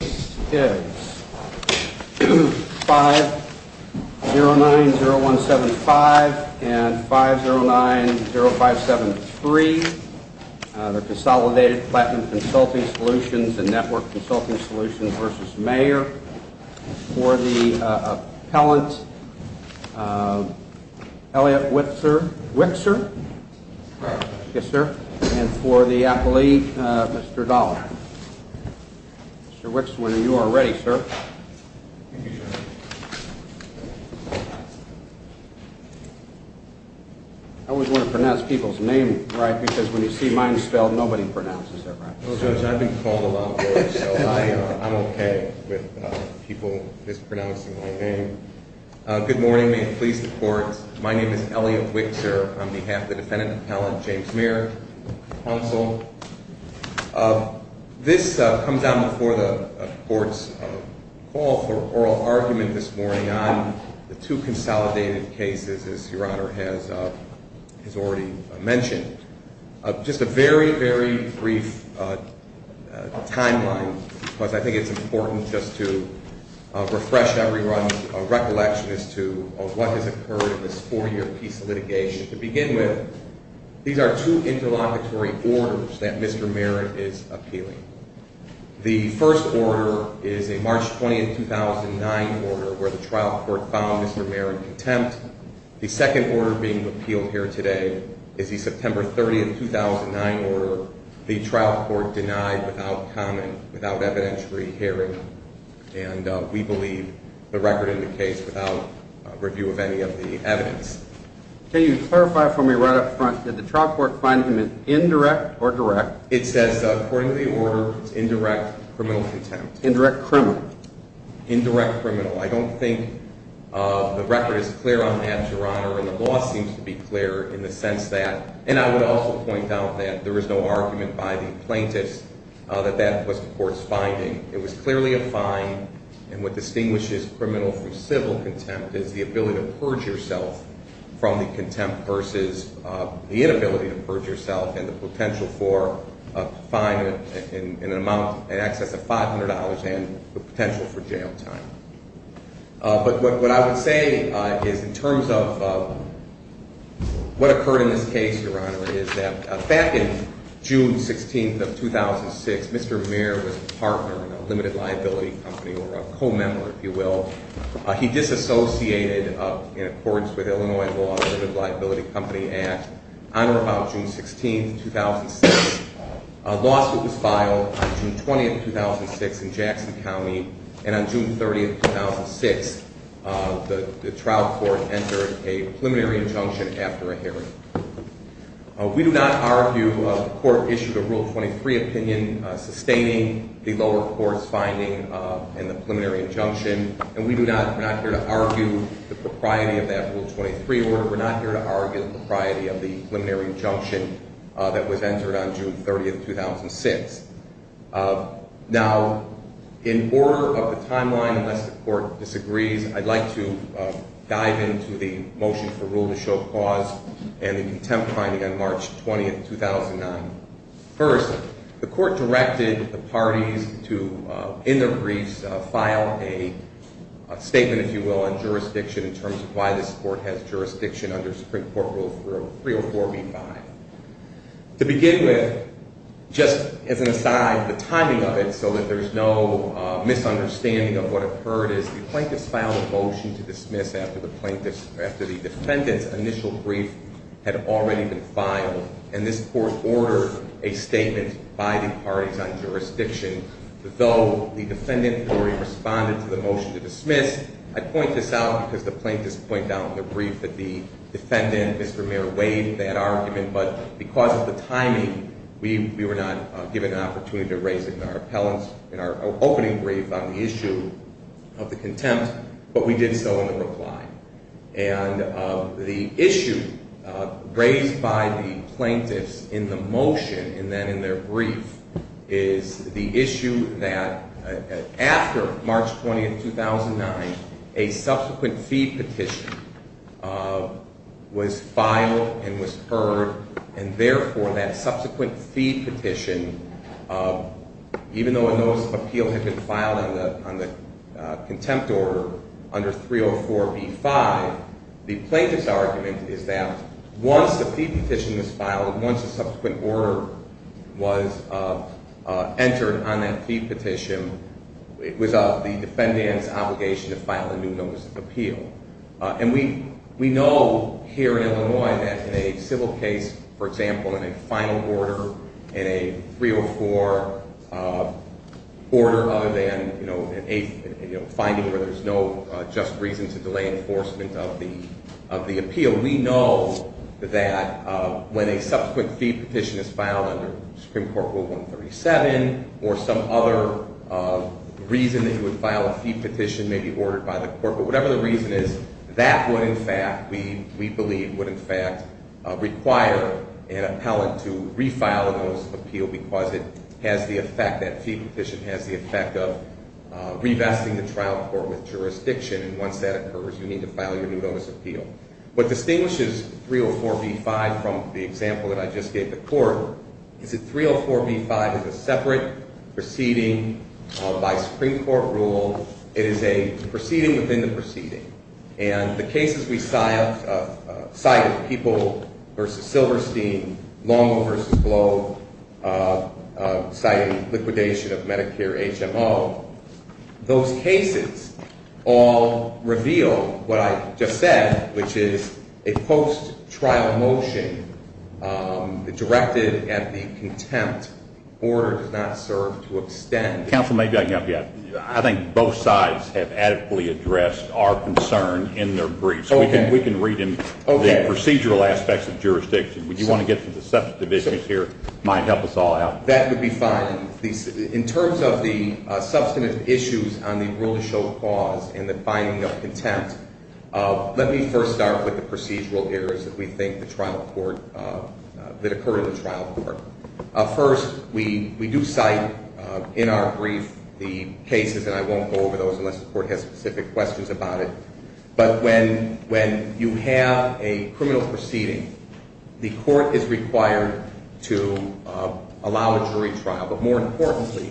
This is 5090175 and 5090573, the Consolidated Platinum Consulting Solutions and Network Consulting Solutions v. Mayer. For the appellant, Elliot Wixor. Yes, sir. And for the appellee, Mr. Dollar. Mr. Wixor, you are ready, sir. I always want to pronounce people's name right because when you see mine spelled, nobody pronounces it right. Well, Judge, I've been called a lot, so I'm okay with people mispronouncing my name. Good morning, may it please the courts. My name is Elliot Wixor. On behalf of the defendant appellant, James Mayer, counsel, this comes out before the court's call for oral argument this morning on the two consolidated cases, as Your Honor has already mentioned. Just a very, very brief timeline because I think it's important just to refresh everyone's recollection as to what has occurred in this four-year piece of litigation. To begin with, these are two interlocutory orders that Mr. Mayer is appealing. The first order is a March 20, 2009 order where the trial court found Mr. Mayer in contempt. The second order being appealed here today is the September 30, 2009 order, the trial court denied without comment, without evidentiary hearing, and we believe the record indicates without review of any of the evidence. Can you clarify for me right up front, did the trial court find him indirect or direct? It says, according to the order, it's indirect criminal contempt. Indirect criminal. Indirect criminal. I don't think the record is clear on that, Your Honor, and the law seems to be clear in the sense that, and I would also point out that there is no argument by the is clearly a fine, and what distinguishes criminal from civil contempt is the ability to purge yourself from the contempt versus the inability to purge yourself and the potential for a fine in an amount in excess of $500 and the potential for jail time. But what I would say is in terms of what occurred in this case, Your Honor, is that back in June 16, 2006, Mr. Mayer was a partner in a limited liability company, or a co-member, if you will. He disassociated in accordance with Illinois law, the Limited Liability Company Act. On or about June 16, 2006, a lawsuit was filed on June 20, 2006, in Jackson County, and on June 30, 2006, the trial court entered a preliminary injunction after a hearing. We do not argue, the court issued a Rule 23 opinion sustaining the lower court's finding in the preliminary injunction, and we do not, we're not here to argue the propriety of that Rule 23 order. We're not here to argue the propriety of the preliminary injunction that was entered on June 30, 2006. Now, in order of the timeline, unless the court disagrees, I'd like to dive into the motion for rule to show cause and the contempt finding on March 20, 2009. First, the court directed the parties to, in their briefs, file a statement, if you will, on jurisdiction in terms of why this court has jurisdiction under Supreme Court Rule 304b-5. To begin with, just as an aside, the timing of it so that there's no misunderstanding of what occurred is the plaintiffs filed a motion to dismiss after the defendant's initial brief had already been filed, and this court ordered a statement by the parties on jurisdiction. Though the defendant already responded to the motion to dismiss, I point this out because the plaintiffs point out in the brief that the defendant, Mr. Mayor, weighed that argument, but because of the timing, we were not given an opportunity to raise it in our opening brief on the issue of the contempt, but we did so in the reply. And the issue raised by the plaintiffs in the motion and then in their brief is the issue that after March 20, 2009, a subsequent fee petition was filed and was heard, and even though a notice of appeal had been filed on the contempt order under 304b-5, the plaintiff's argument is that once the fee petition was filed, once a subsequent order was entered on that fee petition, it was the defendant's obligation to file a new notice of appeal. And we know here in Illinois that in a civil case, for example, in a final order, in a 304 order other than, you know, a finding where there's no just reason to delay enforcement of the appeal, we know that when a subsequent fee petition is filed under Supreme Court Rule 137 or some other reason that you would file a fee petition may be ordered by the Supreme Court, and the reason is that would in fact, we believe, would in fact require an appellant to refile a notice of appeal because it has the effect, that fee petition has the effect of revesting the trial court with jurisdiction, and once that occurs, you need to file your new notice of appeal. What distinguishes 304b-5 from the example that I just gave the court is that 304b-5 is a separate proceeding by Supreme Court rule. It is a proceeding within the proceeding, and the cases we cited, People v. Silverstein, Longo v. Globe, citing liquidation of Medicare HMO, those cases all reveal what I just said, which is a post-trial motion directed at the contempt order does not serve to extend. Counsel, maybe I can help you out. I think both sides have adequately addressed our concern in their briefs. Okay. We can read them. Okay. The procedural aspects of jurisdiction. Would you want to get to the substantive issues here and help us all out? That would be fine. In terms of the substantive issues on the rule-to-show clause and the finding of contempt, let me first start with the procedural errors that occurred in the trial court. First, we do cite in our brief the cases, and I won't go over those unless the court has specific questions about it, but when you have a criminal proceeding, the court is required to allow a jury trial. But more importantly,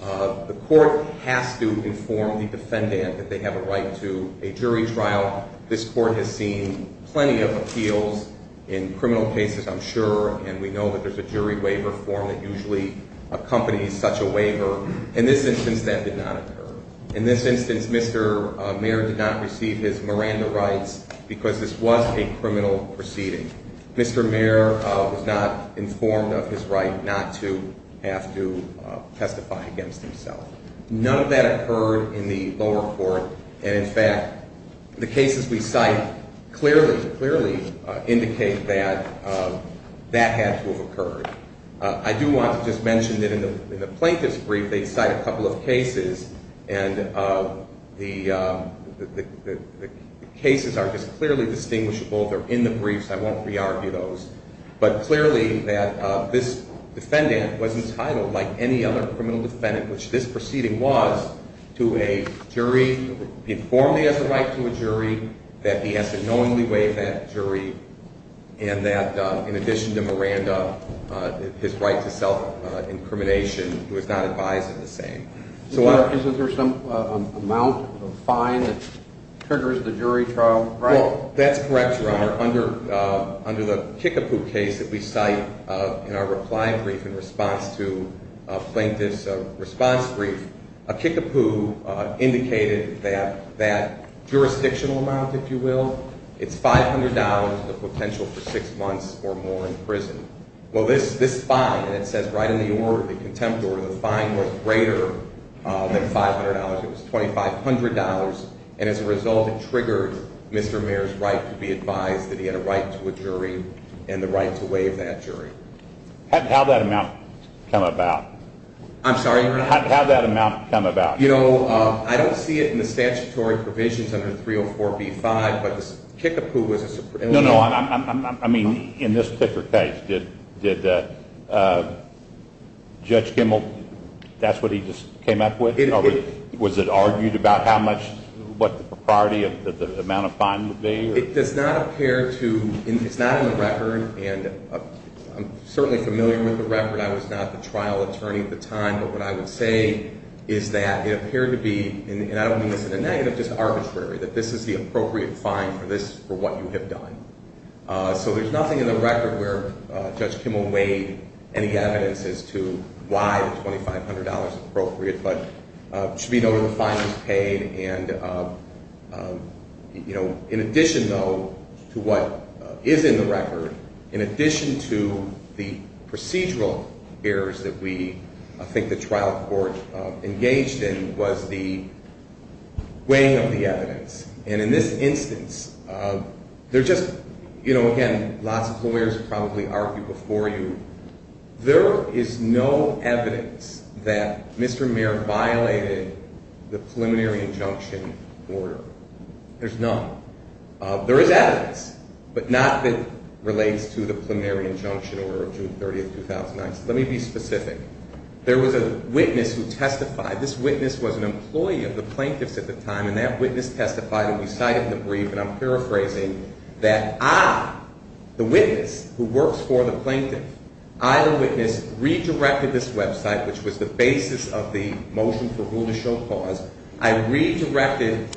the court has to inform the defendant that they have a right to a jury trial. This court has seen plenty of appeals in criminal cases, I'm sure, and we know that there's a jury waiver form that usually accompanies such a waiver. In this instance, that did not occur. In this instance, Mr. Mayer did not receive his Miranda rights because this was a criminal proceeding. Mr. Mayer was not informed of his right not to have to testify against himself. None of that occurred in the lower court, and in fact, the cases we cite clearly, clearly indicate that that had to have occurred. I do want to just mention that in the plaintiff's brief, they cite a couple of cases, and the cases are just clearly distinguishable. They're in the briefs. I won't re-argue those. But clearly that this defendant was entitled, like any other criminal defendant, which this proceeding was, to a jury, informed he has a right to a jury, that he has to knowingly waive that jury, and that in addition to Miranda, his right to self-incrimination, he was not advised of the same. Is there some amount of fine that triggers the jury trial? That's correct, Your Honor. Under the Kickapoo case that we cite in our reply brief in response to the plaintiff's response brief, a Kickapoo indicated that that jurisdictional amount, if you will, it's $500, the potential for six months or more in prison. Well, this fine, and it says right in the order, the contempt order, the fine was greater than $500. It was $2,500, and as a result, it triggered Mr. Mayer's right to be advised that he had a right to a jury and the right to waive that jury. How did that amount come about? I'm sorry, Your Honor? How did that amount come about? You know, I don't see it in the statutory provisions under 304b-5, but this Kickapoo was a supremely- No, no. I mean, in this particular case, did Judge Kimmel, that's what he just came up with? Was it argued about how much, what the propriety of the amount of fine would be? It does not appear to, it's not in the record, and I'm certainly familiar with the record. I was not the trial attorney at the time, but what I would say is that it appeared to be, and I don't mean this in a negative, just arbitrary, that this is the appropriate fine for what you have done. So there's nothing in the record where Judge Kimmel weighed any evidence as to why the $2,500 is appropriate, but it should be noted the fine was paid. And, you know, in addition, though, to what is in the record, in addition to the procedural errors that we think the trial court engaged in was the weighing of the evidence. And in this instance, there just, you know, again, lots of lawyers have probably argued before you, there is no evidence that Mr. Mayer violated the preliminary injunction order. There's none. There is evidence, but not that relates to the preliminary injunction order of June 30, 2009. So let me be specific. There was a witness who testified. This witness was an employee of the plaintiffs at the time, and that witness testified, and I'm paraphrasing, that I, the witness who works for the plaintiff, I, the witness, redirected this website, which was the basis of the motion for rule to show clause. I redirected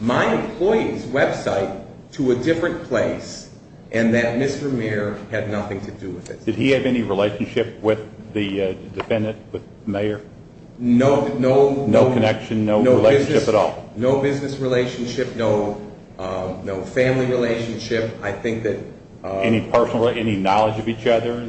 my employee's website to a different place, and that Mr. Mayer had nothing to do with it. Did he have any relationship with the defendant, with Mayer? No. No connection, no relationship at all? No business relationship, no family relationship. I think that... Any personal, any knowledge of each other?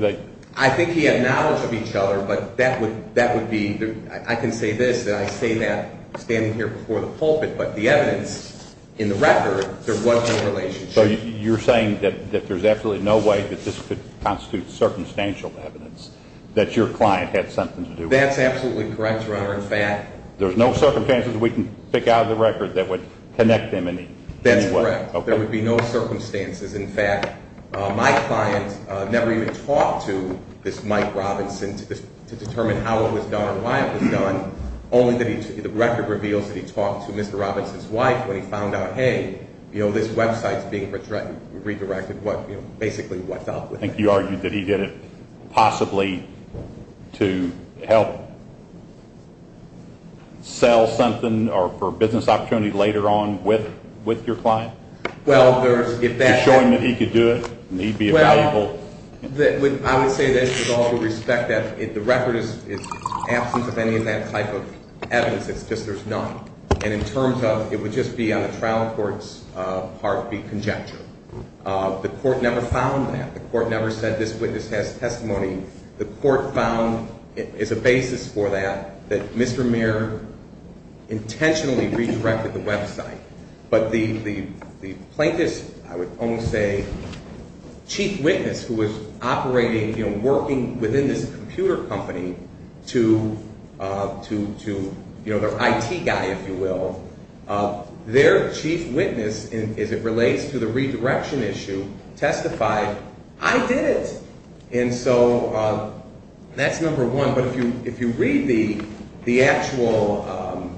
I think he had knowledge of each other, but that would be, I can say this, and I say that standing here before the pulpit, but the evidence in the record, there was no relationship. So you're saying that there's absolutely no way that this could constitute circumstantial evidence, that your client had something to do with it? That's absolutely correct, Your Honor. In fact... There's no circumstances we can pick out of the record that would connect them in any way? That's correct. There would be no circumstances. In fact, my client never even talked to this Mike Robinson to determine how it was done or why it was done, only that he, the record reveals that he talked to Mr. Robinson's wife when he found out, hey, you know, this website's being redirected, what, you know, basically what's up with it. I think you argued that he did it possibly to help sell something or for business opportunity later on with your client? Well, there's... To show him that he could do it and he'd be valuable? Well, I would say this with all due respect, that the record is absent of any of that type of evidence, it's just there's none. And in terms of, it would just be on the trial court's heartbeat conjecture. The court never found that. The court never said this witness has testimony. The court found as a basis for that, that Mr. Mayer intentionally redirected the website. But the plaintiff's, I would almost say, chief witness who was operating, you know, working within this computer company to, you know, their IT guy, if you will, their chief witness as it relates to the redirection issue testified, I did it. And so that's number one. But if you read the actual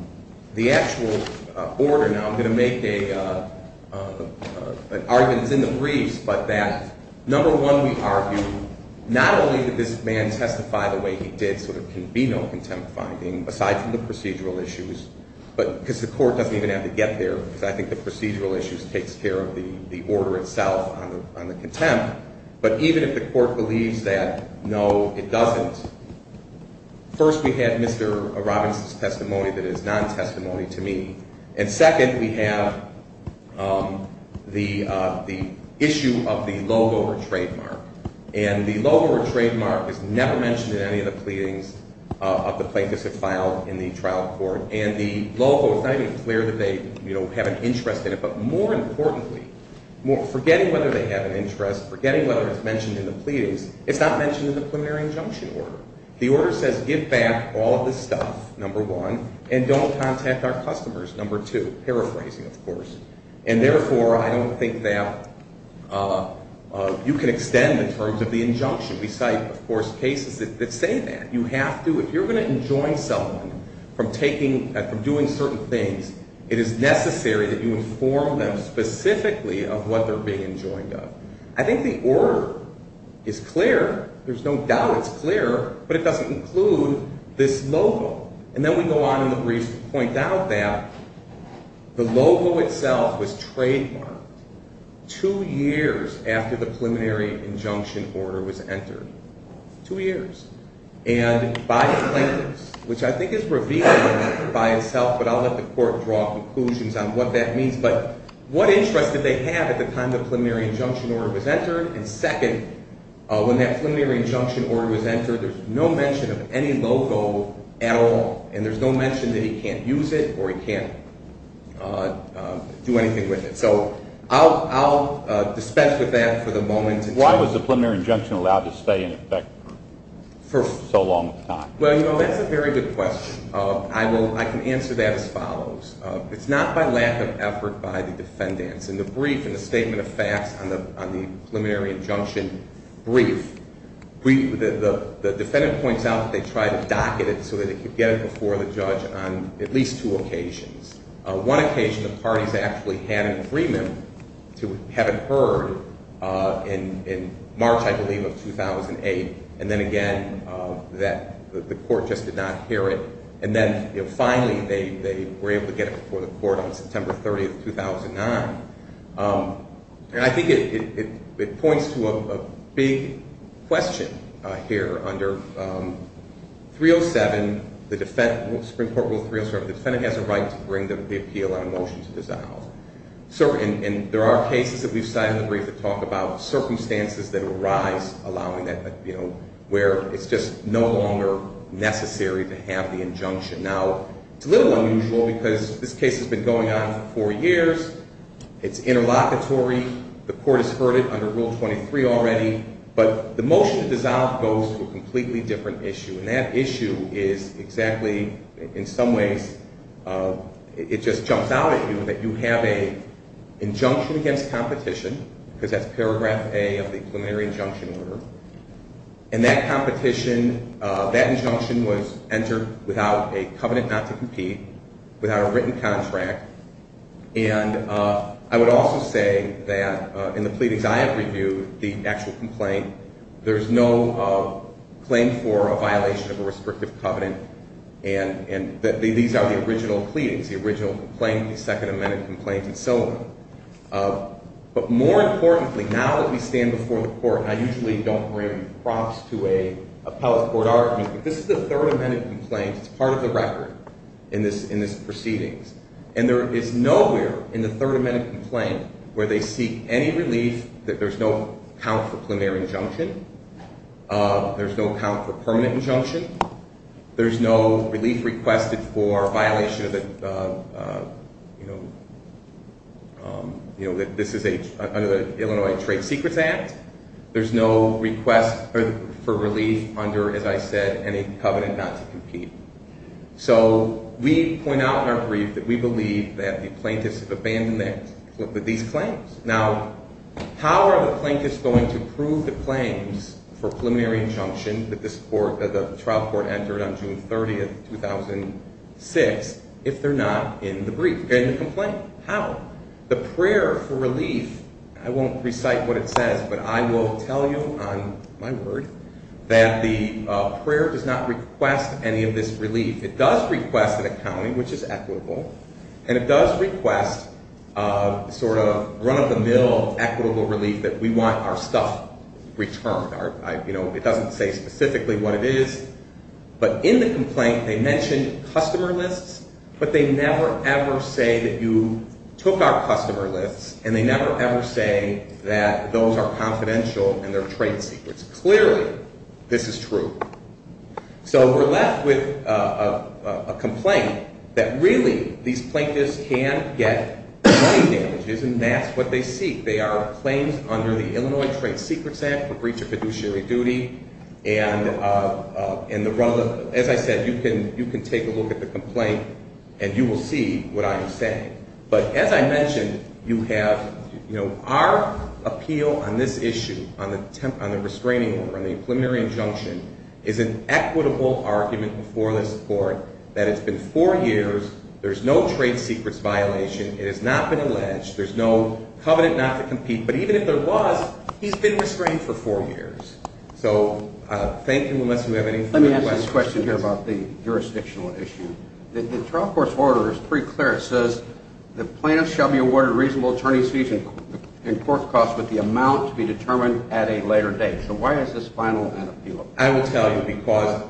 order, now I'm going to make an argument that's in the briefs, but that number one, we argue not only did this man testify the way he did so there can be no contempt finding aside from the procedural issues, but because the court doesn't even have to get there because I think the procedural issues takes care of the order itself on the contempt. But even if the court believes that, no, it doesn't. First, we have Mr. Robbins' testimony that is non-testimony to me. And second, we have the issue of the logo or trademark. And the logo or trademark is never mentioned in any of the pleadings of the plaintiffs that filed in the trial court. And the logo, it's not even clear that they, you know, have an interest in it. But more importantly, forgetting whether they have an interest, forgetting whether it's mentioned in the pleadings, it's not mentioned in the preliminary injunction order. The order says give back all of the stuff, number one, and don't contact our customers, number two, paraphrasing, of course. And therefore, I don't think that you can extend the terms of the injunction. We cite, of course, cases that say that. You have to, if you're going to enjoin someone from taking, from doing certain things, it is necessary that you inform them specifically of what they're being enjoined of. I think the order is clear. There's no doubt it's clear. But it doesn't include this logo. And then we go on in the briefs to point out that the logo itself was trademarked two years after the preliminary injunction order was entered. Two years. And by plaintiffs, which I think is revealing by itself, but I'll let the court draw conclusions on what that means, but what interest did they have at the time the preliminary injunction order was entered? And second, when that preliminary injunction order was entered, there's no mention of any logo at all. And there's no mention that he can't use it or he can't do anything with it. So I'll dispense with that for the moment. Why was the preliminary injunction allowed to stay in effect for so long a time? Well, you know, that's a very good question. I can answer that as follows. It's not by lack of effort by the defendants. In the brief, in the statement of facts on the preliminary injunction brief, the defendant points out that they tried to docket it so that they could get it before the judge on at least two occasions. One occasion, the parties actually had an agreement to have it heard in March, I believe, of 2008. And then again, the court just did not hear it. And then finally, they were able to get it before the court on September 30, 2009. And I think it points to a big question here under 307, the Supreme Court Rule 307. The defendant has a right to bring the appeal on a motion to dissolve. And there are cases that we've cited in the brief that talk about circumstances that arise allowing that, you know, where it's just no longer necessary to have the injunction. Now, it's a little unusual because this case has been going on for four years. It's interlocutory. The court has heard it under Rule 23 already. But the motion to dissolve goes to a completely different issue. And that issue is exactly, in some ways, it just jumps out at you that you have an injunction against competition because that's paragraph A of the preliminary injunction order. And that competition, that injunction was entered without a covenant not to compete, without a written contract. And I would also say that in the pleadings I have reviewed, the actual complaint, there's no claim for a violation of a restrictive covenant. And these are the original pleadings, the original complaint, the Second Amendment complaint, and so on. But more importantly, now that we stand before the court, and I usually don't bring props to a appellate court argument, but this is the Third Amendment complaint. It's part of the record in this proceedings. And there is nowhere in the Third Amendment complaint where they seek any relief that there's no count for preliminary injunction, there's no count for permanent injunction, there's no relief requested for violation of the Illinois Trade Secrets Act, there's no request for relief under, as I said, any covenant not to compete. So we point out in our brief that we believe that the plaintiffs have abandoned these claims. Now, how are the plaintiffs going to prove the claims for preliminary injunction that this court, that the trial court entered on June 30, 2006, if they're not in the brief, in the complaint? How? The prayer for relief, I won't recite what it says, but I will tell you on my word that the prayer does not request any of this relief. It does request an accounting, which is equitable, and it does request a sort of run-of-the-mill equitable relief that we want our stuff returned. It doesn't say specifically what it is, but in the complaint they mention customer lists, but they never, ever say that you took our customer lists, and they never, ever say that those are confidential and they're trade secrets. Clearly, this is true. So we're left with a complaint that really these plaintiffs can get money damages, and that's what they seek. They are claims under the Illinois Trade Secrets Act for breach of fiduciary duty, and as I said, you can take a look at the complaint and you will see what I am saying. But as I mentioned, you have our appeal on this issue, on the restraining order, on the preliminary injunction is an equitable argument before this court that it's been four years, there's no trade secrets violation, it has not been alleged, there's no covenant not to compete, but even if there was, he's been restrained for four years. So thank you unless you have any further questions. Let me ask this question here about the jurisdictional issue. The trial court's order is pretty clear. It says the plaintiff shall be awarded reasonable attorney's fees and court costs with the amount to be determined at a later date. So why is this final? I will tell you, because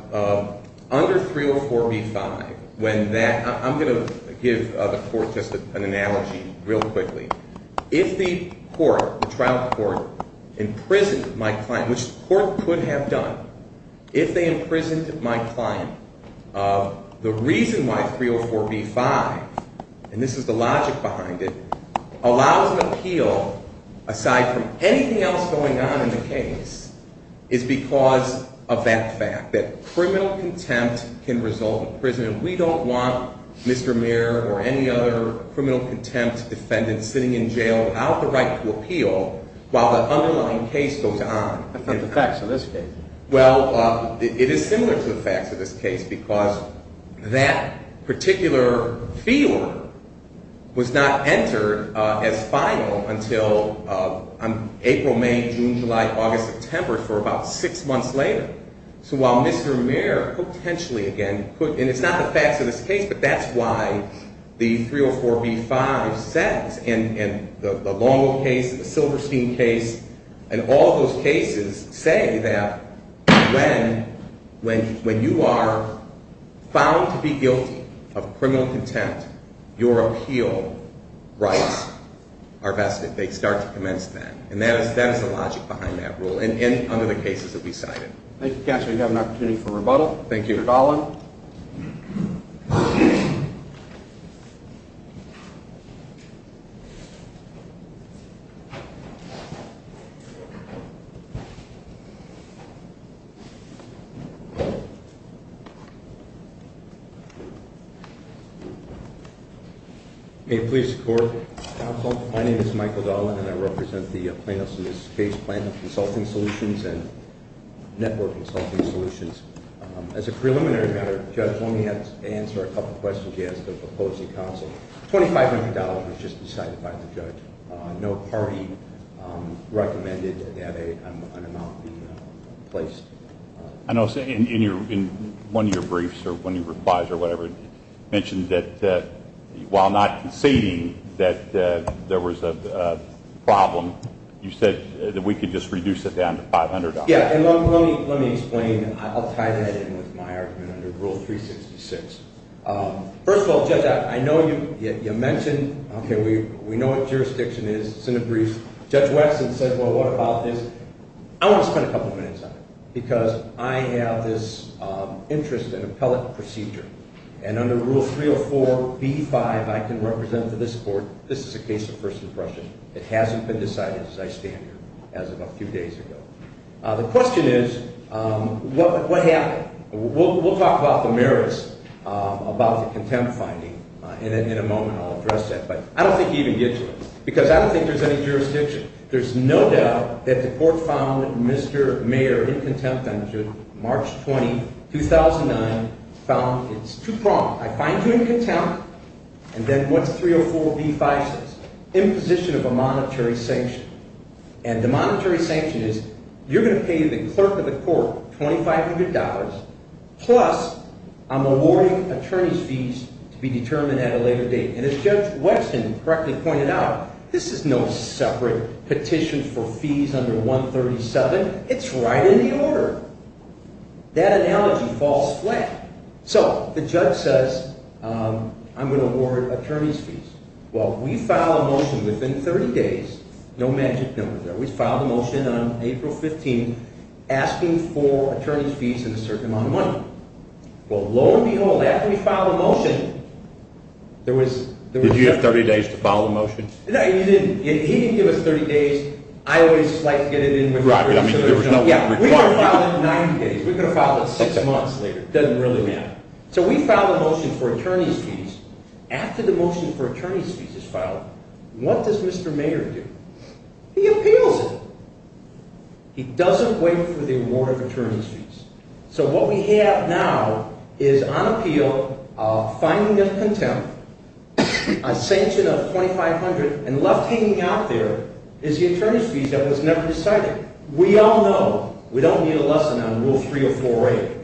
under 304b-5, when that, I'm going to give the court just an analogy real quickly. If the court, the trial court, imprisoned my client, which the court could have done, if they imprisoned my client, the reason why 304b-5, and this is the logic behind it, allows an appeal aside from anything else going on in the case is because of that fact, that criminal contempt can result in imprisonment. We don't want Mr. Muir or any other criminal contempt defendant sitting in jail without the right to appeal while the underlying case goes on. That's not the facts of this case. Well, it is similar to the facts of this case because that particular fee order was not entered as final until April, May, June, July, August, September for about six months later. So while Mr. Muir potentially again could, and it's not the facts of this case, but that's why the 304b-5 says, and the Longo case, the Silverstein case, and all those cases say that when you are found to be guilty of criminal contempt, your appeal rights are vested. They start to commence then. And that is the logic behind that rule and under the cases that we cited. Thank you, Counselor. We have an opportunity for rebuttal. Thank you. Mr. Dahlin. May it please the Court. Counsel, my name is Michael Dahlin, and I represent the plaintiffs in this case, Plaintiff Consulting Solutions and Network Consulting Solutions. As a preliminary matter, Judge, let me answer a couple of questions you asked of the opposing counsel. $2,500 was just decided by the judge. No party recommended that an amount be placed. I know in one of your briefs or one of your replies or whatever, you mentioned that while not conceding that there was a problem, you said that we could just reduce it down to $500. Yeah, and let me explain. I'll tie that in with my argument under Rule 366. First of all, Judge, I know you mentioned, okay, we know what jurisdiction is. It's in the briefs. Judge Waxman said, well, what about this? I want to spend a couple of minutes on it because I have this interest in appellate procedure, and under Rule 304b-5, I can represent for this Court this is a case of first impression. It hasn't been decided, as I stand here, as of a few days ago. The question is, what happened? We'll talk about the merits, about the contempt finding. In a moment, I'll address that, but I don't think he even gets it because I don't think there's any jurisdiction. There's no doubt that the Court found Mr. Mayer in contempt until March 20, 2009, found it's too prompt. I find you in contempt, and then what's 304b-5 says? Imposition of a monetary sanction. And the monetary sanction is you're going to pay the clerk of the court $2,500, plus I'm awarding attorney's fees to be determined at a later date. And as Judge Waxman correctly pointed out, this is no separate petition for fees under 137. It's right in the order. That analogy falls flat. So the judge says, I'm going to award attorney's fees. Well, we filed a motion within 30 days. No magic numbers there. We filed a motion on April 15, asking for attorney's fees and a certain amount of money. Well, lo and behold, after we filed a motion, there was – Did you have 30 days to file the motion? No, you didn't. He didn't give us 30 days. I always like to get it in – Right, but I mean there was no – Yeah, we could have filed it in 90 days. We could have filed it six months later. It doesn't really matter. So we filed a motion for attorney's fees. After the motion for attorney's fees is filed, what does Mr. Mayer do? He appeals it. He doesn't wait for the award of attorney's fees. So what we have now is on appeal a finding of contempt, a sanction of $2,500, and left hanging out there is the attorney's fees that was never decided. We all know we don't need a lesson on Rule 304A.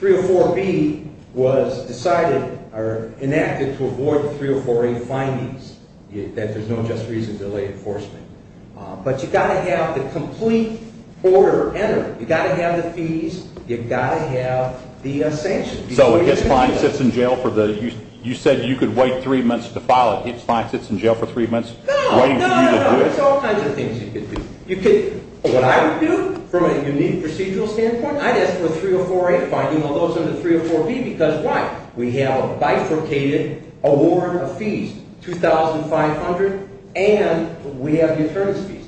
Rule 304B was decided or enacted to avoid the 304A findings, that there's no just reason to delay enforcement. But you've got to have the complete order entered. You've got to have the fees. You've got to have the sanctions. So if a client sits in jail for the – you said you could wait three months to file it. If a client sits in jail for three months waiting for you to do it? No, no, no. There's all kinds of things you could do. What I would do from a unique procedural standpoint, I'd ask for a 304A finding, although it's under 304B, because why? We have a bifurcated award of fees, $2,500, and we have the attorney's fees.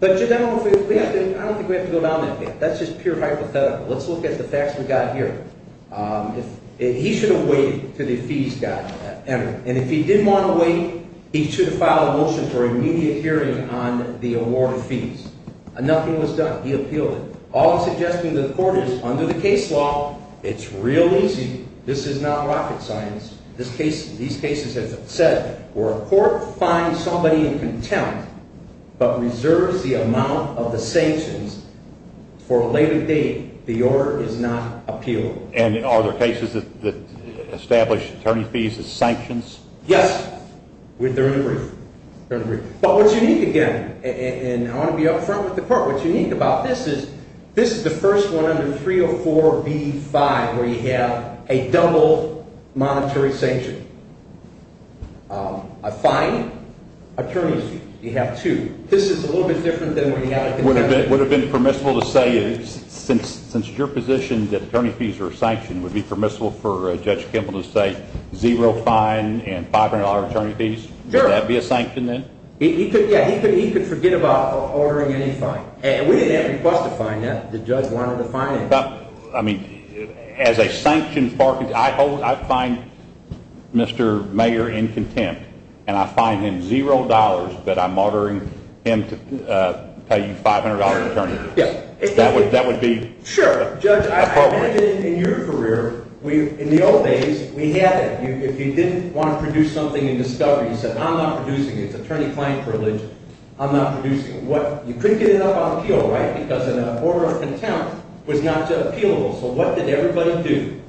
But I don't think we have to go down that path. That's just pure hypothetical. Let's look at the facts we've got here. He should have waited until the fees got entered. And if he didn't want to wait, he should have filed a motion for immediate hearing on the award of fees. Nothing was done. He appealed it. All I'm suggesting to the court is under the case law, it's real easy. This is not rocket science. These cases have said where a court finds somebody in contempt but reserves the amount of the sanctions for a later date, the order is not appealed. And are there cases that establish attorney fees as sanctions? Yes. They're in the brief. But what's unique again, and I want to be up front with the court, what's unique about this is this is the first one under 304B-5 where you have a double monetary sanction. A fine, attorney's fees. You have two. This is a little bit different than what we have in Kentucky. Would it have been permissible to say since your position that attorney fees are a sanction, would it be permissible for Judge Kimball to say zero fine and $500 attorney fees? Sure. Would that be a sanction then? Yeah. He could forget about ordering any fine. And we didn't have to request a fine yet. The judge wanted a fine anyway. I mean, as a sanctioned bargain, I find Mr. Mayer in contempt, and I fine him $0 that I'm ordering him to pay you $500 attorney fees. Yeah. That would be appropriate. Sure. Judge, I've been in your career. In the old days, we had that. If you didn't want to produce something in discovery, you said, I'm not producing it. It's attorney-client privilege. I'm not producing it. You couldn't get it up on appeal, right, because an order of contempt was not appealable. So what did everybody do?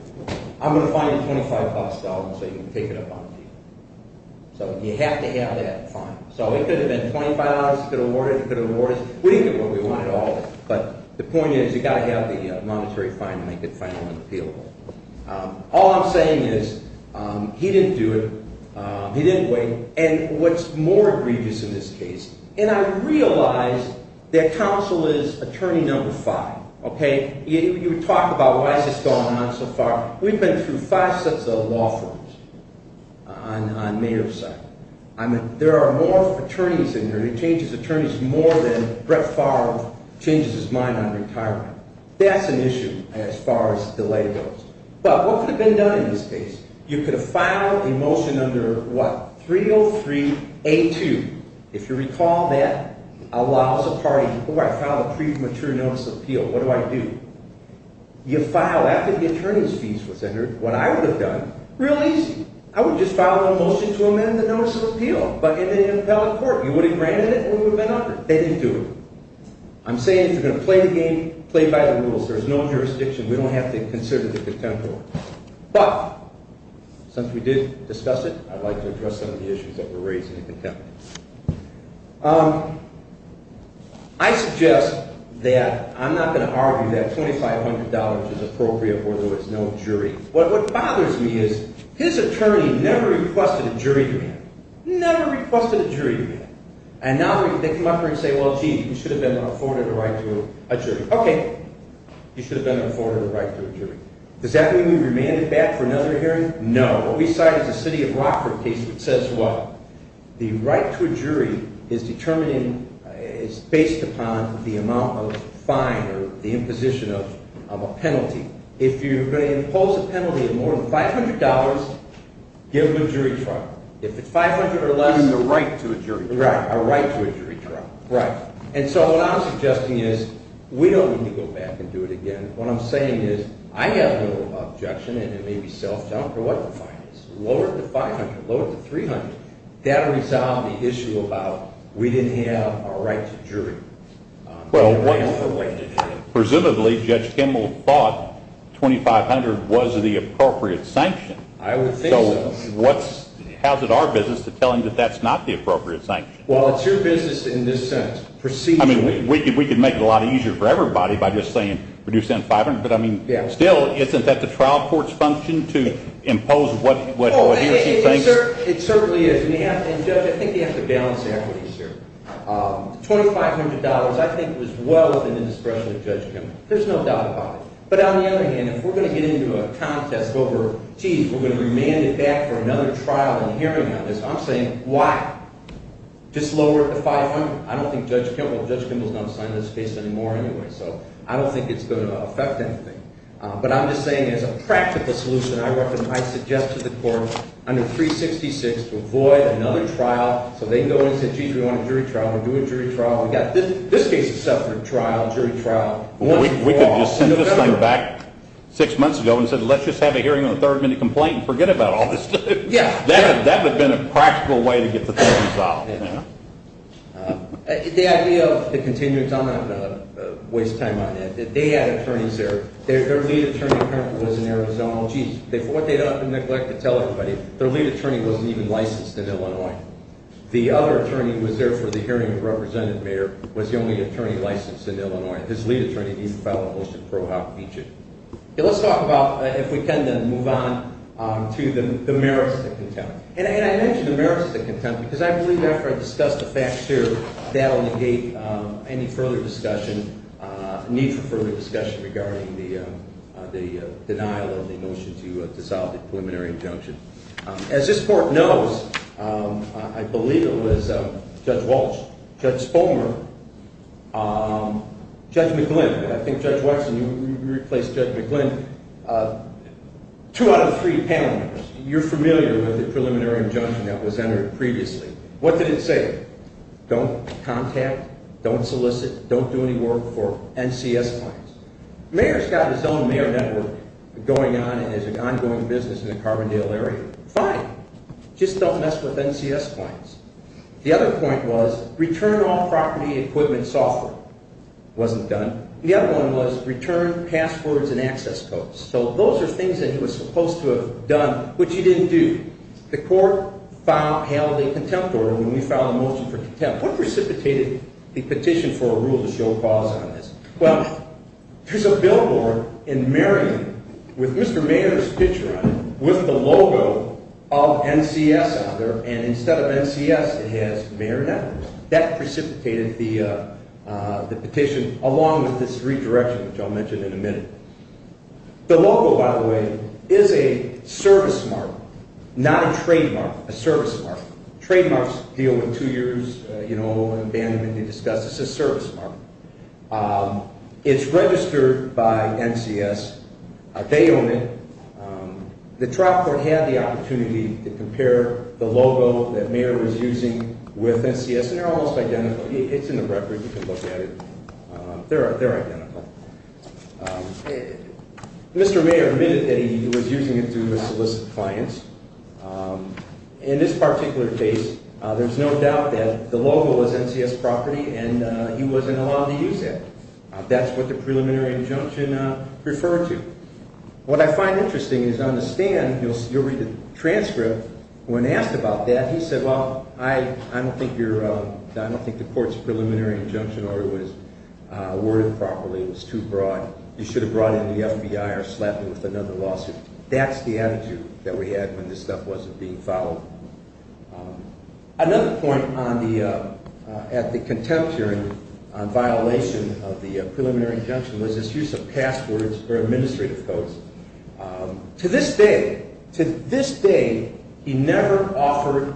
I'm going to fine you $25 so you can take it up on appeal. So you have to have that fine. So it could have been $25. You could have awarded it. You could have awarded it. We didn't get what we wanted at all. But the point is you've got to have the monetary fine to make it finally appealable. All I'm saying is he didn't do it. He didn't wait. And what's more egregious in this case, and I realize that counsel is attorney number five. Okay. You talk about why is this going on so far. We've been through five sets of law firms on May 2nd. There are more attorneys in there. He changes attorneys more than Brett Favre changes his mind on retirement. That's an issue as far as delay goes. But what could have been done in this case? You could have filed a motion under what? 303A2. If you recall that allows a party, oh, I filed a pre-mature notice of appeal. What do I do? You file after the attorney's fees was entered. What I would have done, real easy. I would just file a motion to amend the notice of appeal, but in an appellate court. You would have granted it and we would have been under it. They didn't do it. I'm saying if you're going to play the game, play by the rules. There's no jurisdiction. We don't have to consider the contemporary. But since we did discuss it, I'd like to address some of the issues that were raised in the contemporary. I suggest that I'm not going to argue that $2,500 is appropriate, although it's no jury. What bothers me is his attorney never requested a jury demand. Never requested a jury demand. And now they come up here and say, well, gee, he should have been afforded a right to a jury. Okay. He should have been afforded a right to a jury. Does that mean we remand him back for another hearing? No. What we cite is a city of Rockford case that says what? The right to a jury is based upon the amount of fine or the imposition of a penalty. If you're going to impose a penalty of more than $500, give him a jury trial. If it's $500 or less. A right to a jury trial. Right. A right to a jury trial. Right. And so what I'm suggesting is we don't need to go back and do it again. What I'm saying is I have no objection, and it may be self-junk, or what the fine is. Lower it to $500. Lower it to $300. That will resolve the issue about we didn't have a right to a jury. Presumably, Judge Kimball thought $2,500 was the appropriate sanction. I would think so. So how is it our business to tell him that that's not the appropriate sanction? Well, it's your business in this sentence. I mean, we could make it a lot easier for everybody by just saying reduce that to $500. But, I mean, still, isn't that the trial court's function to impose what he or she thinks? It certainly is. And, Judge, I think you have to balance the equities here. $2,500, I think, was well within the discretion of Judge Kimball. There's no doubt about it. But on the other hand, if we're going to get into a contest over, geez, we're going to remand it back for another trial and hearing on this, I'm saying, why? Just lower it to $500. I don't think Judge Kimball's going to sign this case anymore anyway. So I don't think it's going to affect anything. But I'm just saying as a practical solution, I suggest to the court under 366 to avoid another trial. So they can go in and say, geez, we want a jury trial. We'll do a jury trial. We've got this case a separate trial, jury trial. We could just send this thing back six months ago and say let's just have a hearing on the third minute complaint and forget about all this stuff. Yeah. That would have been a practical way to get the thing resolved. The idea of the continuance, I'm not going to waste time on that. They had attorneys there. Their lead attorney was in Arizona. Geez, what they neglected to tell everybody, their lead attorney wasn't even licensed in Illinois. The other attorney who was there for the hearing of the representative mayor was the only attorney licensed in Illinois. His lead attorney didn't file a motion to throw out Beechett. Let's talk about, if we can then, move on to the merits of contempt. And I mention the merits of the contempt because I believe after I discuss the facts here, that will negate any further discussion, need for further discussion regarding the denial of the motion to dissolve the preliminary injunction. As this court knows, I believe it was Judge Walsh, Judge Spomer, Judge McGlynn. I think Judge Watson, you replaced Judge McGlynn. Two out of three panel members, you're familiar with the preliminary injunction that was entered previously. What did it say? Don't contact, don't solicit, don't do any work for NCS clients. The mayor's got his own mayor network going on and has an ongoing business in the Carbondale area. Fine. Just don't mess with NCS clients. The other point was return all property, equipment, software. Wasn't done. The other one was return passwords and access codes. So those are things that he was supposed to have done, which he didn't do. The court filed a palliative contempt order when we filed a motion for contempt. What precipitated the petition for a rule to show a clause on this? Well, there's a billboard in Marion with Mr. Mayer's picture on it with the logo of NCS on there. And instead of NCS, it has Mayor Networks. That precipitated the petition along with this redirection, which I'll mention in a minute. The logo, by the way, is a service mark, not a trademark, a service mark. Trademarks deal with two years, you know, and abandonment and disgust. It's a service mark. It's registered by NCS. They own it. The trial court had the opportunity to compare the logo that Mayer was using with NCS, and they're almost identical. It's in the record. You can look at it. They're identical. Mr. Mayer admitted that he was using it to solicit clients. In this particular case, there's no doubt that the logo was NCS property, and he wasn't allowed to use it. That's what the preliminary injunction referred to. What I find interesting is on the stand, you'll read the transcript. When asked about that, he said, well, I don't think the court's preliminary injunction order was worded properly. It was too broad. You should have brought in the FBI or slapped them with another lawsuit. That's the attitude that we had when this stuff wasn't being followed. Another point at the contempt hearing on violation of the preliminary injunction was this use of passwords or administrative codes. To this day, to this day, he never offered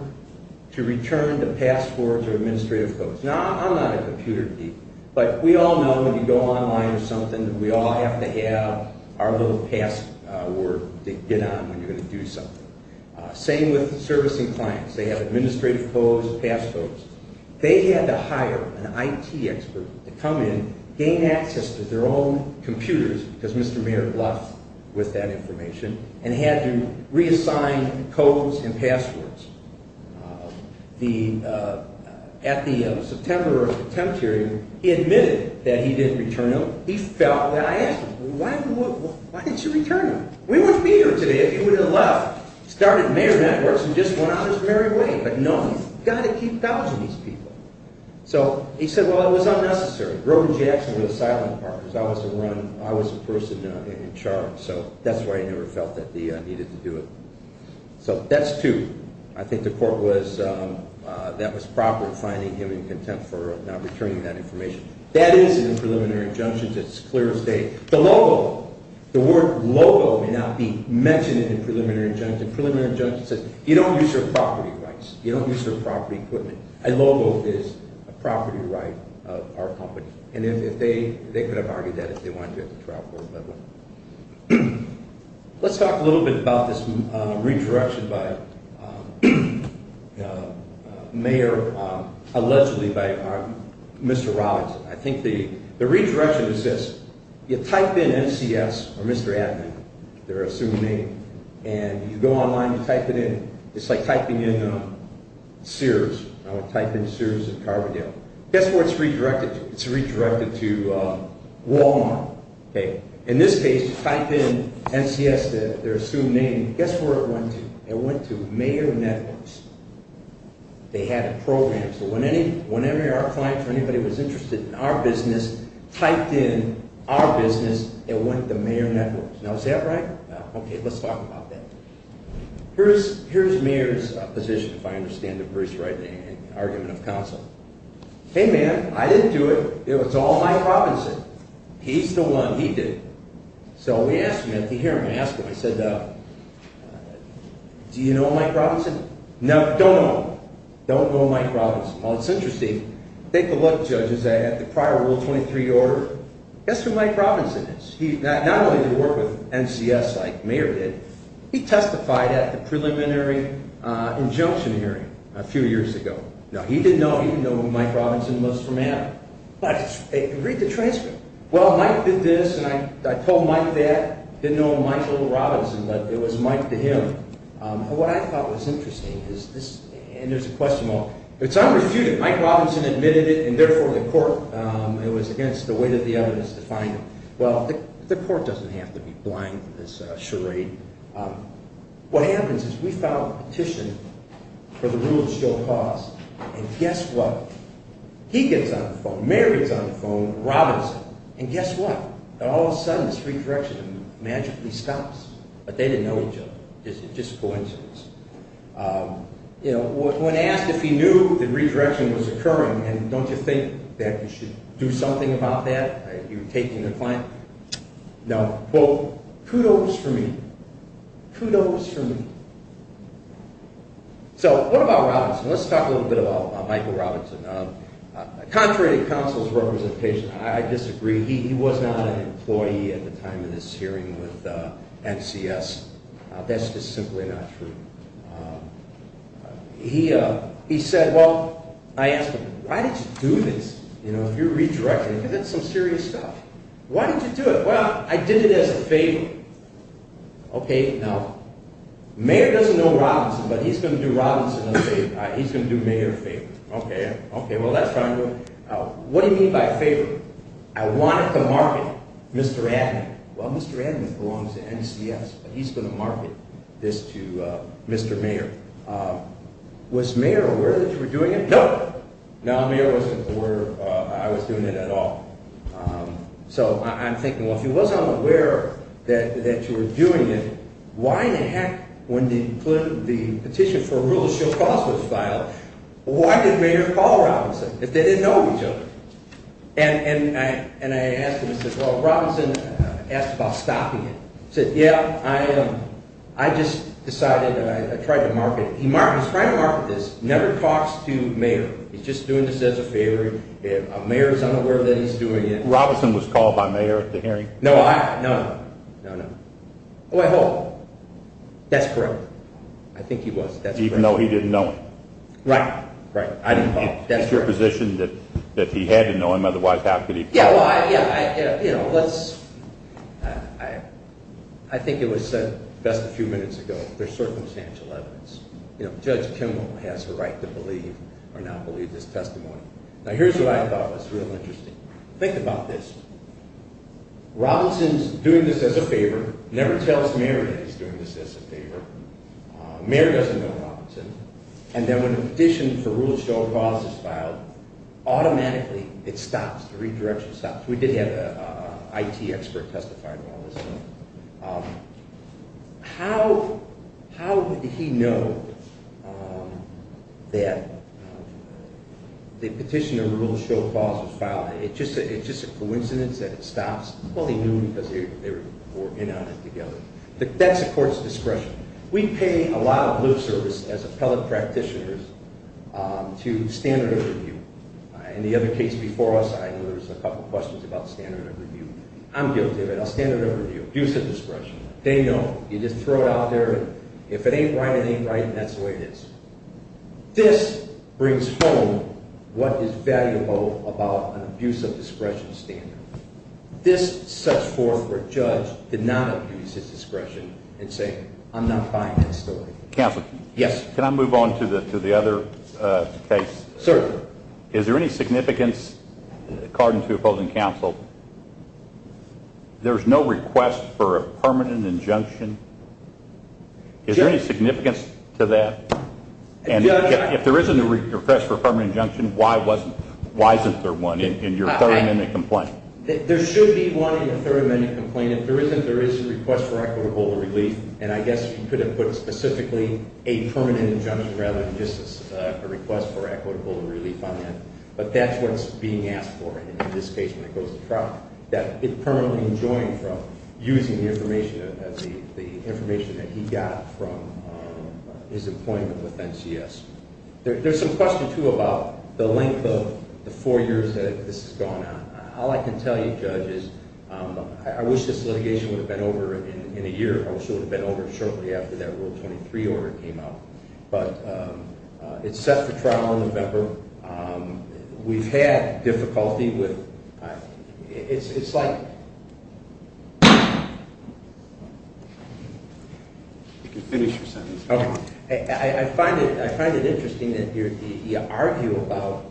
to return the passwords or administrative codes. Now, I'm not a computer geek, but we all know when you go online or something, we all have to have our little password to get on when you're going to do something. Same with servicing clients. They have administrative codes, passcodes. They had to hire an IT expert to come in, gain access to their own computers, because Mr. Mayer bluffed with that information, and had to reassign codes and passwords. At the September contempt hearing, he admitted that he didn't return them. He felt that I asked him, well, why didn't you return them? We wouldn't be here today if you would have left. Started Mayer Networks and just went on his merry way. But no, you've got to keep couching these people. So he said, well, it was unnecessary. Grogan Jackson was a silent partner. I was the person in charge. So that's why he never felt that he needed to do it. So that's two. I think the court was, that was proper in finding him in contempt for not returning that information. That is in the preliminary injunctions. It's clear as day. The logo, the word logo may not be mentioned in the preliminary injunction. Preliminary injunction says you don't use your property rights. You don't use your property equipment. A logo is a property right of our company. And they could have argued that if they wanted to at the trial court level. Let's talk a little bit about this redirection by Mayer, allegedly by Mr. Robinson. I think the redirection is this. You type in NCS or Mr. Adnan, their assumed name. And you go online and type it in. It's like typing in Sears. I would type in Sears and Carbondale. Guess where it's redirected to? It's redirected to Walmart. In this case, you type in NCS, their assumed name. Guess where it went to? It went to Mayer Networks. They had a program. So whenever our clients or anybody was interested in our business, typed in our business. It went to Mayer Networks. Now is that right? Okay, let's talk about that. Here's Mayer's position, if I understand it Bruce right, in the argument of counsel. Hey man, I didn't do it. It was all Mike Robinson. He's the one. He did it. So we asked him. After hearing him, I asked him. I said, do you know Mike Robinson? No, don't know him. Well, it's interesting. Take a look, Judge, at the prior Rule 23 order. That's who Mike Robinson is. Not only did he work with NCS like Mayer did. He testified at the preliminary injunction hearing a few years ago. Now, he didn't know who Mike Robinson was from Adam. But read the transcript. Well, Mike did this and I told Mike that. Didn't know Michael Robinson, but it was Mike to him. What I thought was interesting is this, and there's a question mark. It's unrefuted. Mike Robinson admitted it and therefore the court, it was against the weight of the evidence to find him. Well, the court doesn't have to be blind to this charade. What happens is we file a petition for the rule to show cause. And guess what? He gets on the phone. Mayer gets on the phone. Robinson. And guess what? And all of a sudden this redirection magically stops. But they didn't know each other. Just coincidence. You know, when asked if he knew the redirection was occurring, and don't you think that you should do something about that? Are you taking the client? No. Well, kudos for me. Kudos for me. So what about Robinson? Let's talk a little bit about Michael Robinson. Contrary to counsel's representation, I disagree. He was not an employee at the time of this hearing with NCS. That's just simply not true. He said, well, I asked him, why did you do this? You know, if you're redirecting, that's some serious stuff. Why did you do it? Well, I did it as a favor. Okay, now, Mayer doesn't know Robinson, but he's going to do Robinson a favor. He's going to do Mayer a favor. Okay, well, that's fine. What do you mean by a favor? I wanted to market Mr. Adman. Well, Mr. Adman belongs to NCS, but he's going to market this to Mr. Mayer. Was Mayer aware that you were doing it? No. No, Mayer wasn't aware I was doing it at all. So I'm thinking, well, if he wasn't aware that you were doing it, why in the heck, when the petition for a rule of show cause was filed, why did Mayer call Robinson? They didn't know each other. And I asked him, I said, well, Robinson asked about stopping it. He said, yeah, I just decided, I tried to market it. He's trying to market this, never talks to Mayer. He's just doing this as a favor. Mayer is unaware that he's doing it. Robinson was called by Mayer at the hearing? No, no, no, no, no. Oh, I hope. That's correct. I think he was. Even though he didn't know him? Right, right. It's your position that he had to know him. Otherwise, how could he? Yeah, well, I think it was said just a few minutes ago, there's circumstantial evidence. Judge Kimmel has a right to believe or not believe this testimony. Now, here's what I thought was real interesting. Think about this. Robinson's doing this as a favor, never tells Mayer that he's doing this as a favor. Mayer doesn't know Robinson. And then when a petition for rule of show of laws is filed, automatically it stops. The redirection stops. We did have an IT expert testify to all this. How did he know that the petition of rule of show of laws was filed? It's just a coincidence that it stops? Well, he knew because they were in on it together. That's a court's discretion. We pay a lot of lip service as appellate practitioners to standard of review. In the other case before us, I know there was a couple questions about standard of review. I'm guilty of it. A standard of review, abuse of discretion. They know. You just throw it out there. If it ain't right, it ain't right, and that's the way it is. This brings home what is valuable about an abuse of discretion standard. This sets forth where a judge did not abuse his discretion and say, I'm not buying that story. Counsel, can I move on to the other case? Sir. Is there any significance, according to opposing counsel, there's no request for a permanent injunction? Is there any significance to that? If there isn't a request for a permanent injunction, why isn't there one in your third amendment complaint? There should be one in the third amendment complaint. If there isn't, there is a request for equitable relief. And I guess you could have put specifically a permanent injunction rather than just a request for equitable relief on that. But that's what's being asked for in this case when it goes to trial, that it's permanently enjoined from using the information that he got from his appointment with NCS. There's some question, too, about the length of the four years that this has gone on. All I can tell you, Judge, is I wish this litigation would have been over in a year. I wish it would have been over shortly after that Rule 23 order came out. But it's set for trial in November. We've had difficulty with – it's like – You can finish your sentence. Okay. I find it interesting that you argue about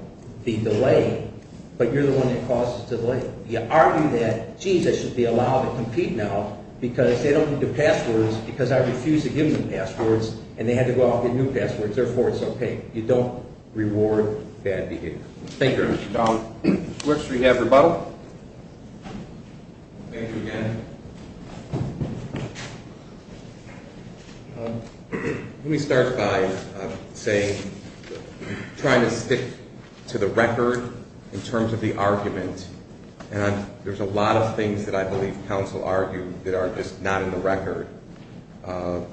the delay, but you're the one that causes the delay. You argue that, geez, I should be allowed to compete now because they don't need the passwords because I refused to give them passwords, and they had to go out and get new passwords. Therefore, it's okay. You don't reward bad behavior. Thank you, Your Honor. We have rebuttal. Thank you again. Let me start by saying – trying to stick to the record in terms of the argument. There's a lot of things that I believe counsel argued that are just not in the record. For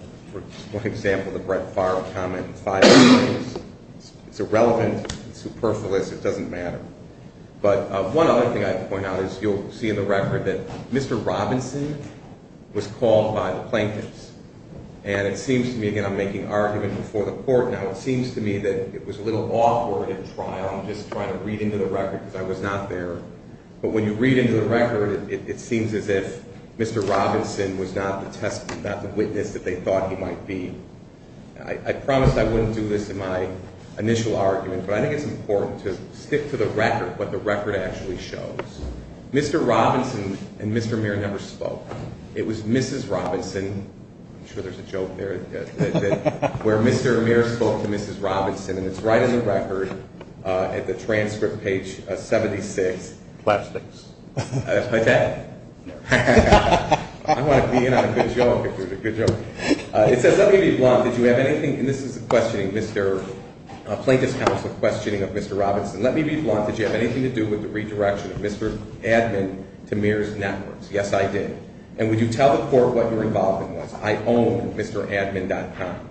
example, the Brett Favre comment, five years. It's irrelevant. It's superfluous. It doesn't matter. But one other thing I have to point out is you'll see in the record that Mr. Robinson was called by the plaintiffs. And it seems to me – again, I'm making argument before the court. Now, it seems to me that it was a little awkward in trial. I'm just trying to read into the record because I was not there. But when you read into the record, it seems as if Mr. Robinson was not the witness that they thought he might be. I promised I wouldn't do this in my initial argument, but I think it's important to stick to the record, what the record actually shows. Mr. Robinson and Mr. Muir never spoke. It was Mrs. Robinson – I'm sure there's a joke there – where Mr. Muir spoke to Mrs. Robinson, and it's right in the record at the transcript, page 76. Plastics. Like that? No. I want to be in on a good joke. It's a good joke. It says, Let me be blunt. Did you have anything – and this is the questioning, Mr. Plaintiff's counsel questioning of Mr. Robinson. Let me be blunt. Did you have anything to do with the redirection of Mr. Admin to Muir's networks? Yes, I did. And would you tell the court what your involvement was? I own MrAdmin.com.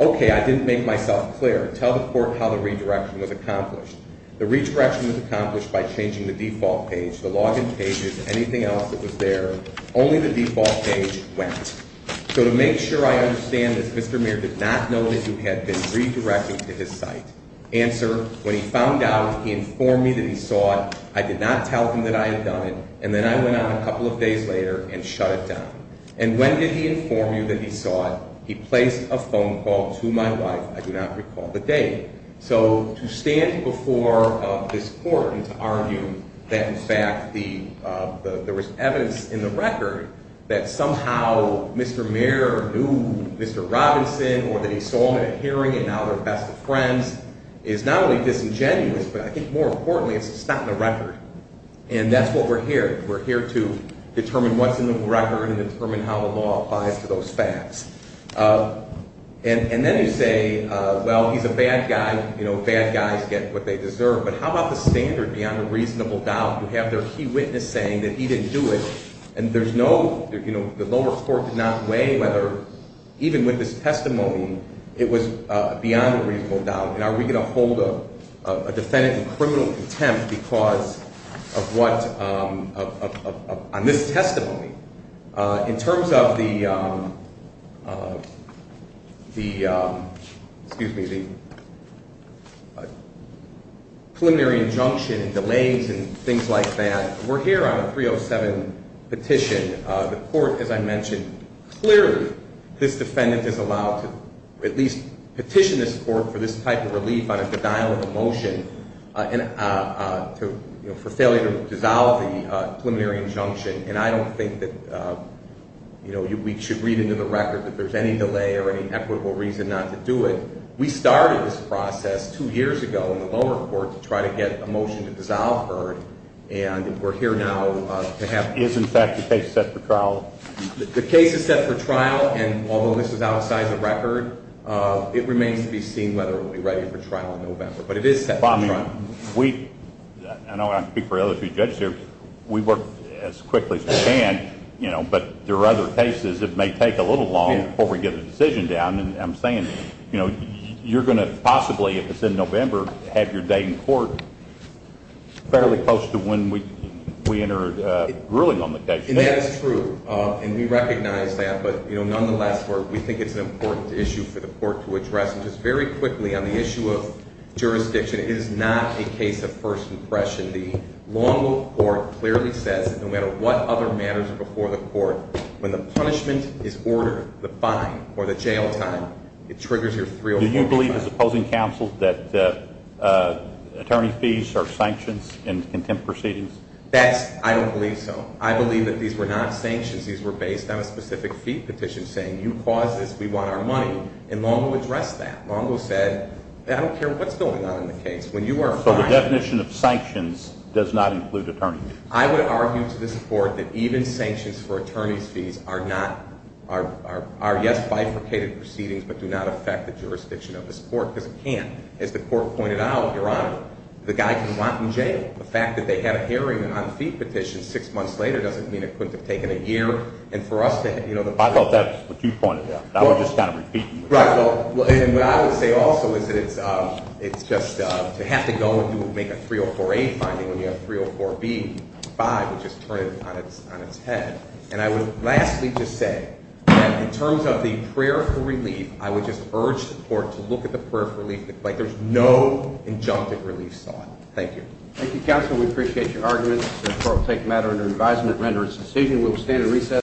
Okay, I didn't make myself clear. Tell the court how the redirection was accomplished. The redirection was accomplished by changing the default page, the login pages, anything else that was there. Only the default page went. So to make sure I understand this, Mr. Muir did not know that you had been redirecting to his site. Answer, when he found out, he informed me that he saw it. I did not tell him that I had done it, and then I went out a couple of days later and shut it down. And when did he inform you that he saw it? He placed a phone call to my wife. I do not recall the date. So to stand before this court and to argue that, in fact, there was evidence in the record that somehow Mr. Muir knew Mr. Robinson or that he saw them at a hearing and now they're best of friends is not only disingenuous, but I think more importantly, it's not in the record. And that's what we're here. We're here to determine what's in the record and determine how the law applies to those facts. And then you say, well, he's a bad guy. You know, bad guys get what they deserve. But how about the standard beyond a reasonable doubt? You have their key witness saying that he didn't do it, and there's no, you know, the lower court did not weigh whether, even with this testimony, it was beyond a reasonable doubt. And are we going to hold a defendant in criminal contempt because of what, on this testimony? In terms of the preliminary injunction and delays and things like that, we're here on a 307 petition. The court, as I mentioned, clearly this defendant is allowed to at least petition this court for this type of relief on a denial of a motion for failure to dissolve the preliminary injunction. And I don't think that, you know, we should read into the record that there's any delay or any equitable reason not to do it. We started this process two years ago in the lower court to try to get a motion to dissolve Byrd, and we're here now to have it. Is the case set for trial? The case is set for trial, and although this is outside the record, it remains to be seen whether it will be ready for trial in November. But it is set for trial. Bobby, we, and I'll speak for the other two judges here, we work as quickly as we can, you know, but there are other cases that may take a little long before we get a decision down. And I'm saying, you know, you're going to possibly, if it's in November, have your day in court fairly close to when we enter a ruling on the case. And that is true, and we recognize that. But, you know, nonetheless, we think it's an important issue for the court to address. And just very quickly on the issue of jurisdiction, it is not a case of first impression. The Longwood Court clearly says that no matter what other matters are before the court, when the punishment is ordered, the fine or the jail time, it triggers your 304 plan. Do you believe, as opposing counsel, that attorney fees are sanctions in contempt proceedings? That's, I don't believe so. I believe that these were not sanctions. These were based on a specific fee petition saying you caused this, we want our money. And Longwood addressed that. Longwood said, I don't care what's going on in the case. When you are fined. So the definition of sanctions does not include attorney fees? I would argue to this court that even sanctions for attorney's fees are not, are yes, bifurcated proceedings, but do not affect the jurisdiction of this court, because it can't. As the court pointed out, Your Honor, the guy can rot in jail. The fact that they had a hearing on the fee petition six months later doesn't mean it couldn't have taken a year. And for us to have, you know. I thought that's what you pointed out. I was just kind of repeating. Right. And what I would say also is that it's just, to have to go and make a 304A finding when you have 304B, 5 would just turn it on its head. And I would lastly just say that in terms of the prayer for relief, I would just urge the court to look at the prayer for relief. Like there's no injunctive relief sought. Thank you. Thank you, counsel. We appreciate your arguments. The court will take the matter under advisement and render its decision. We will stand at recess.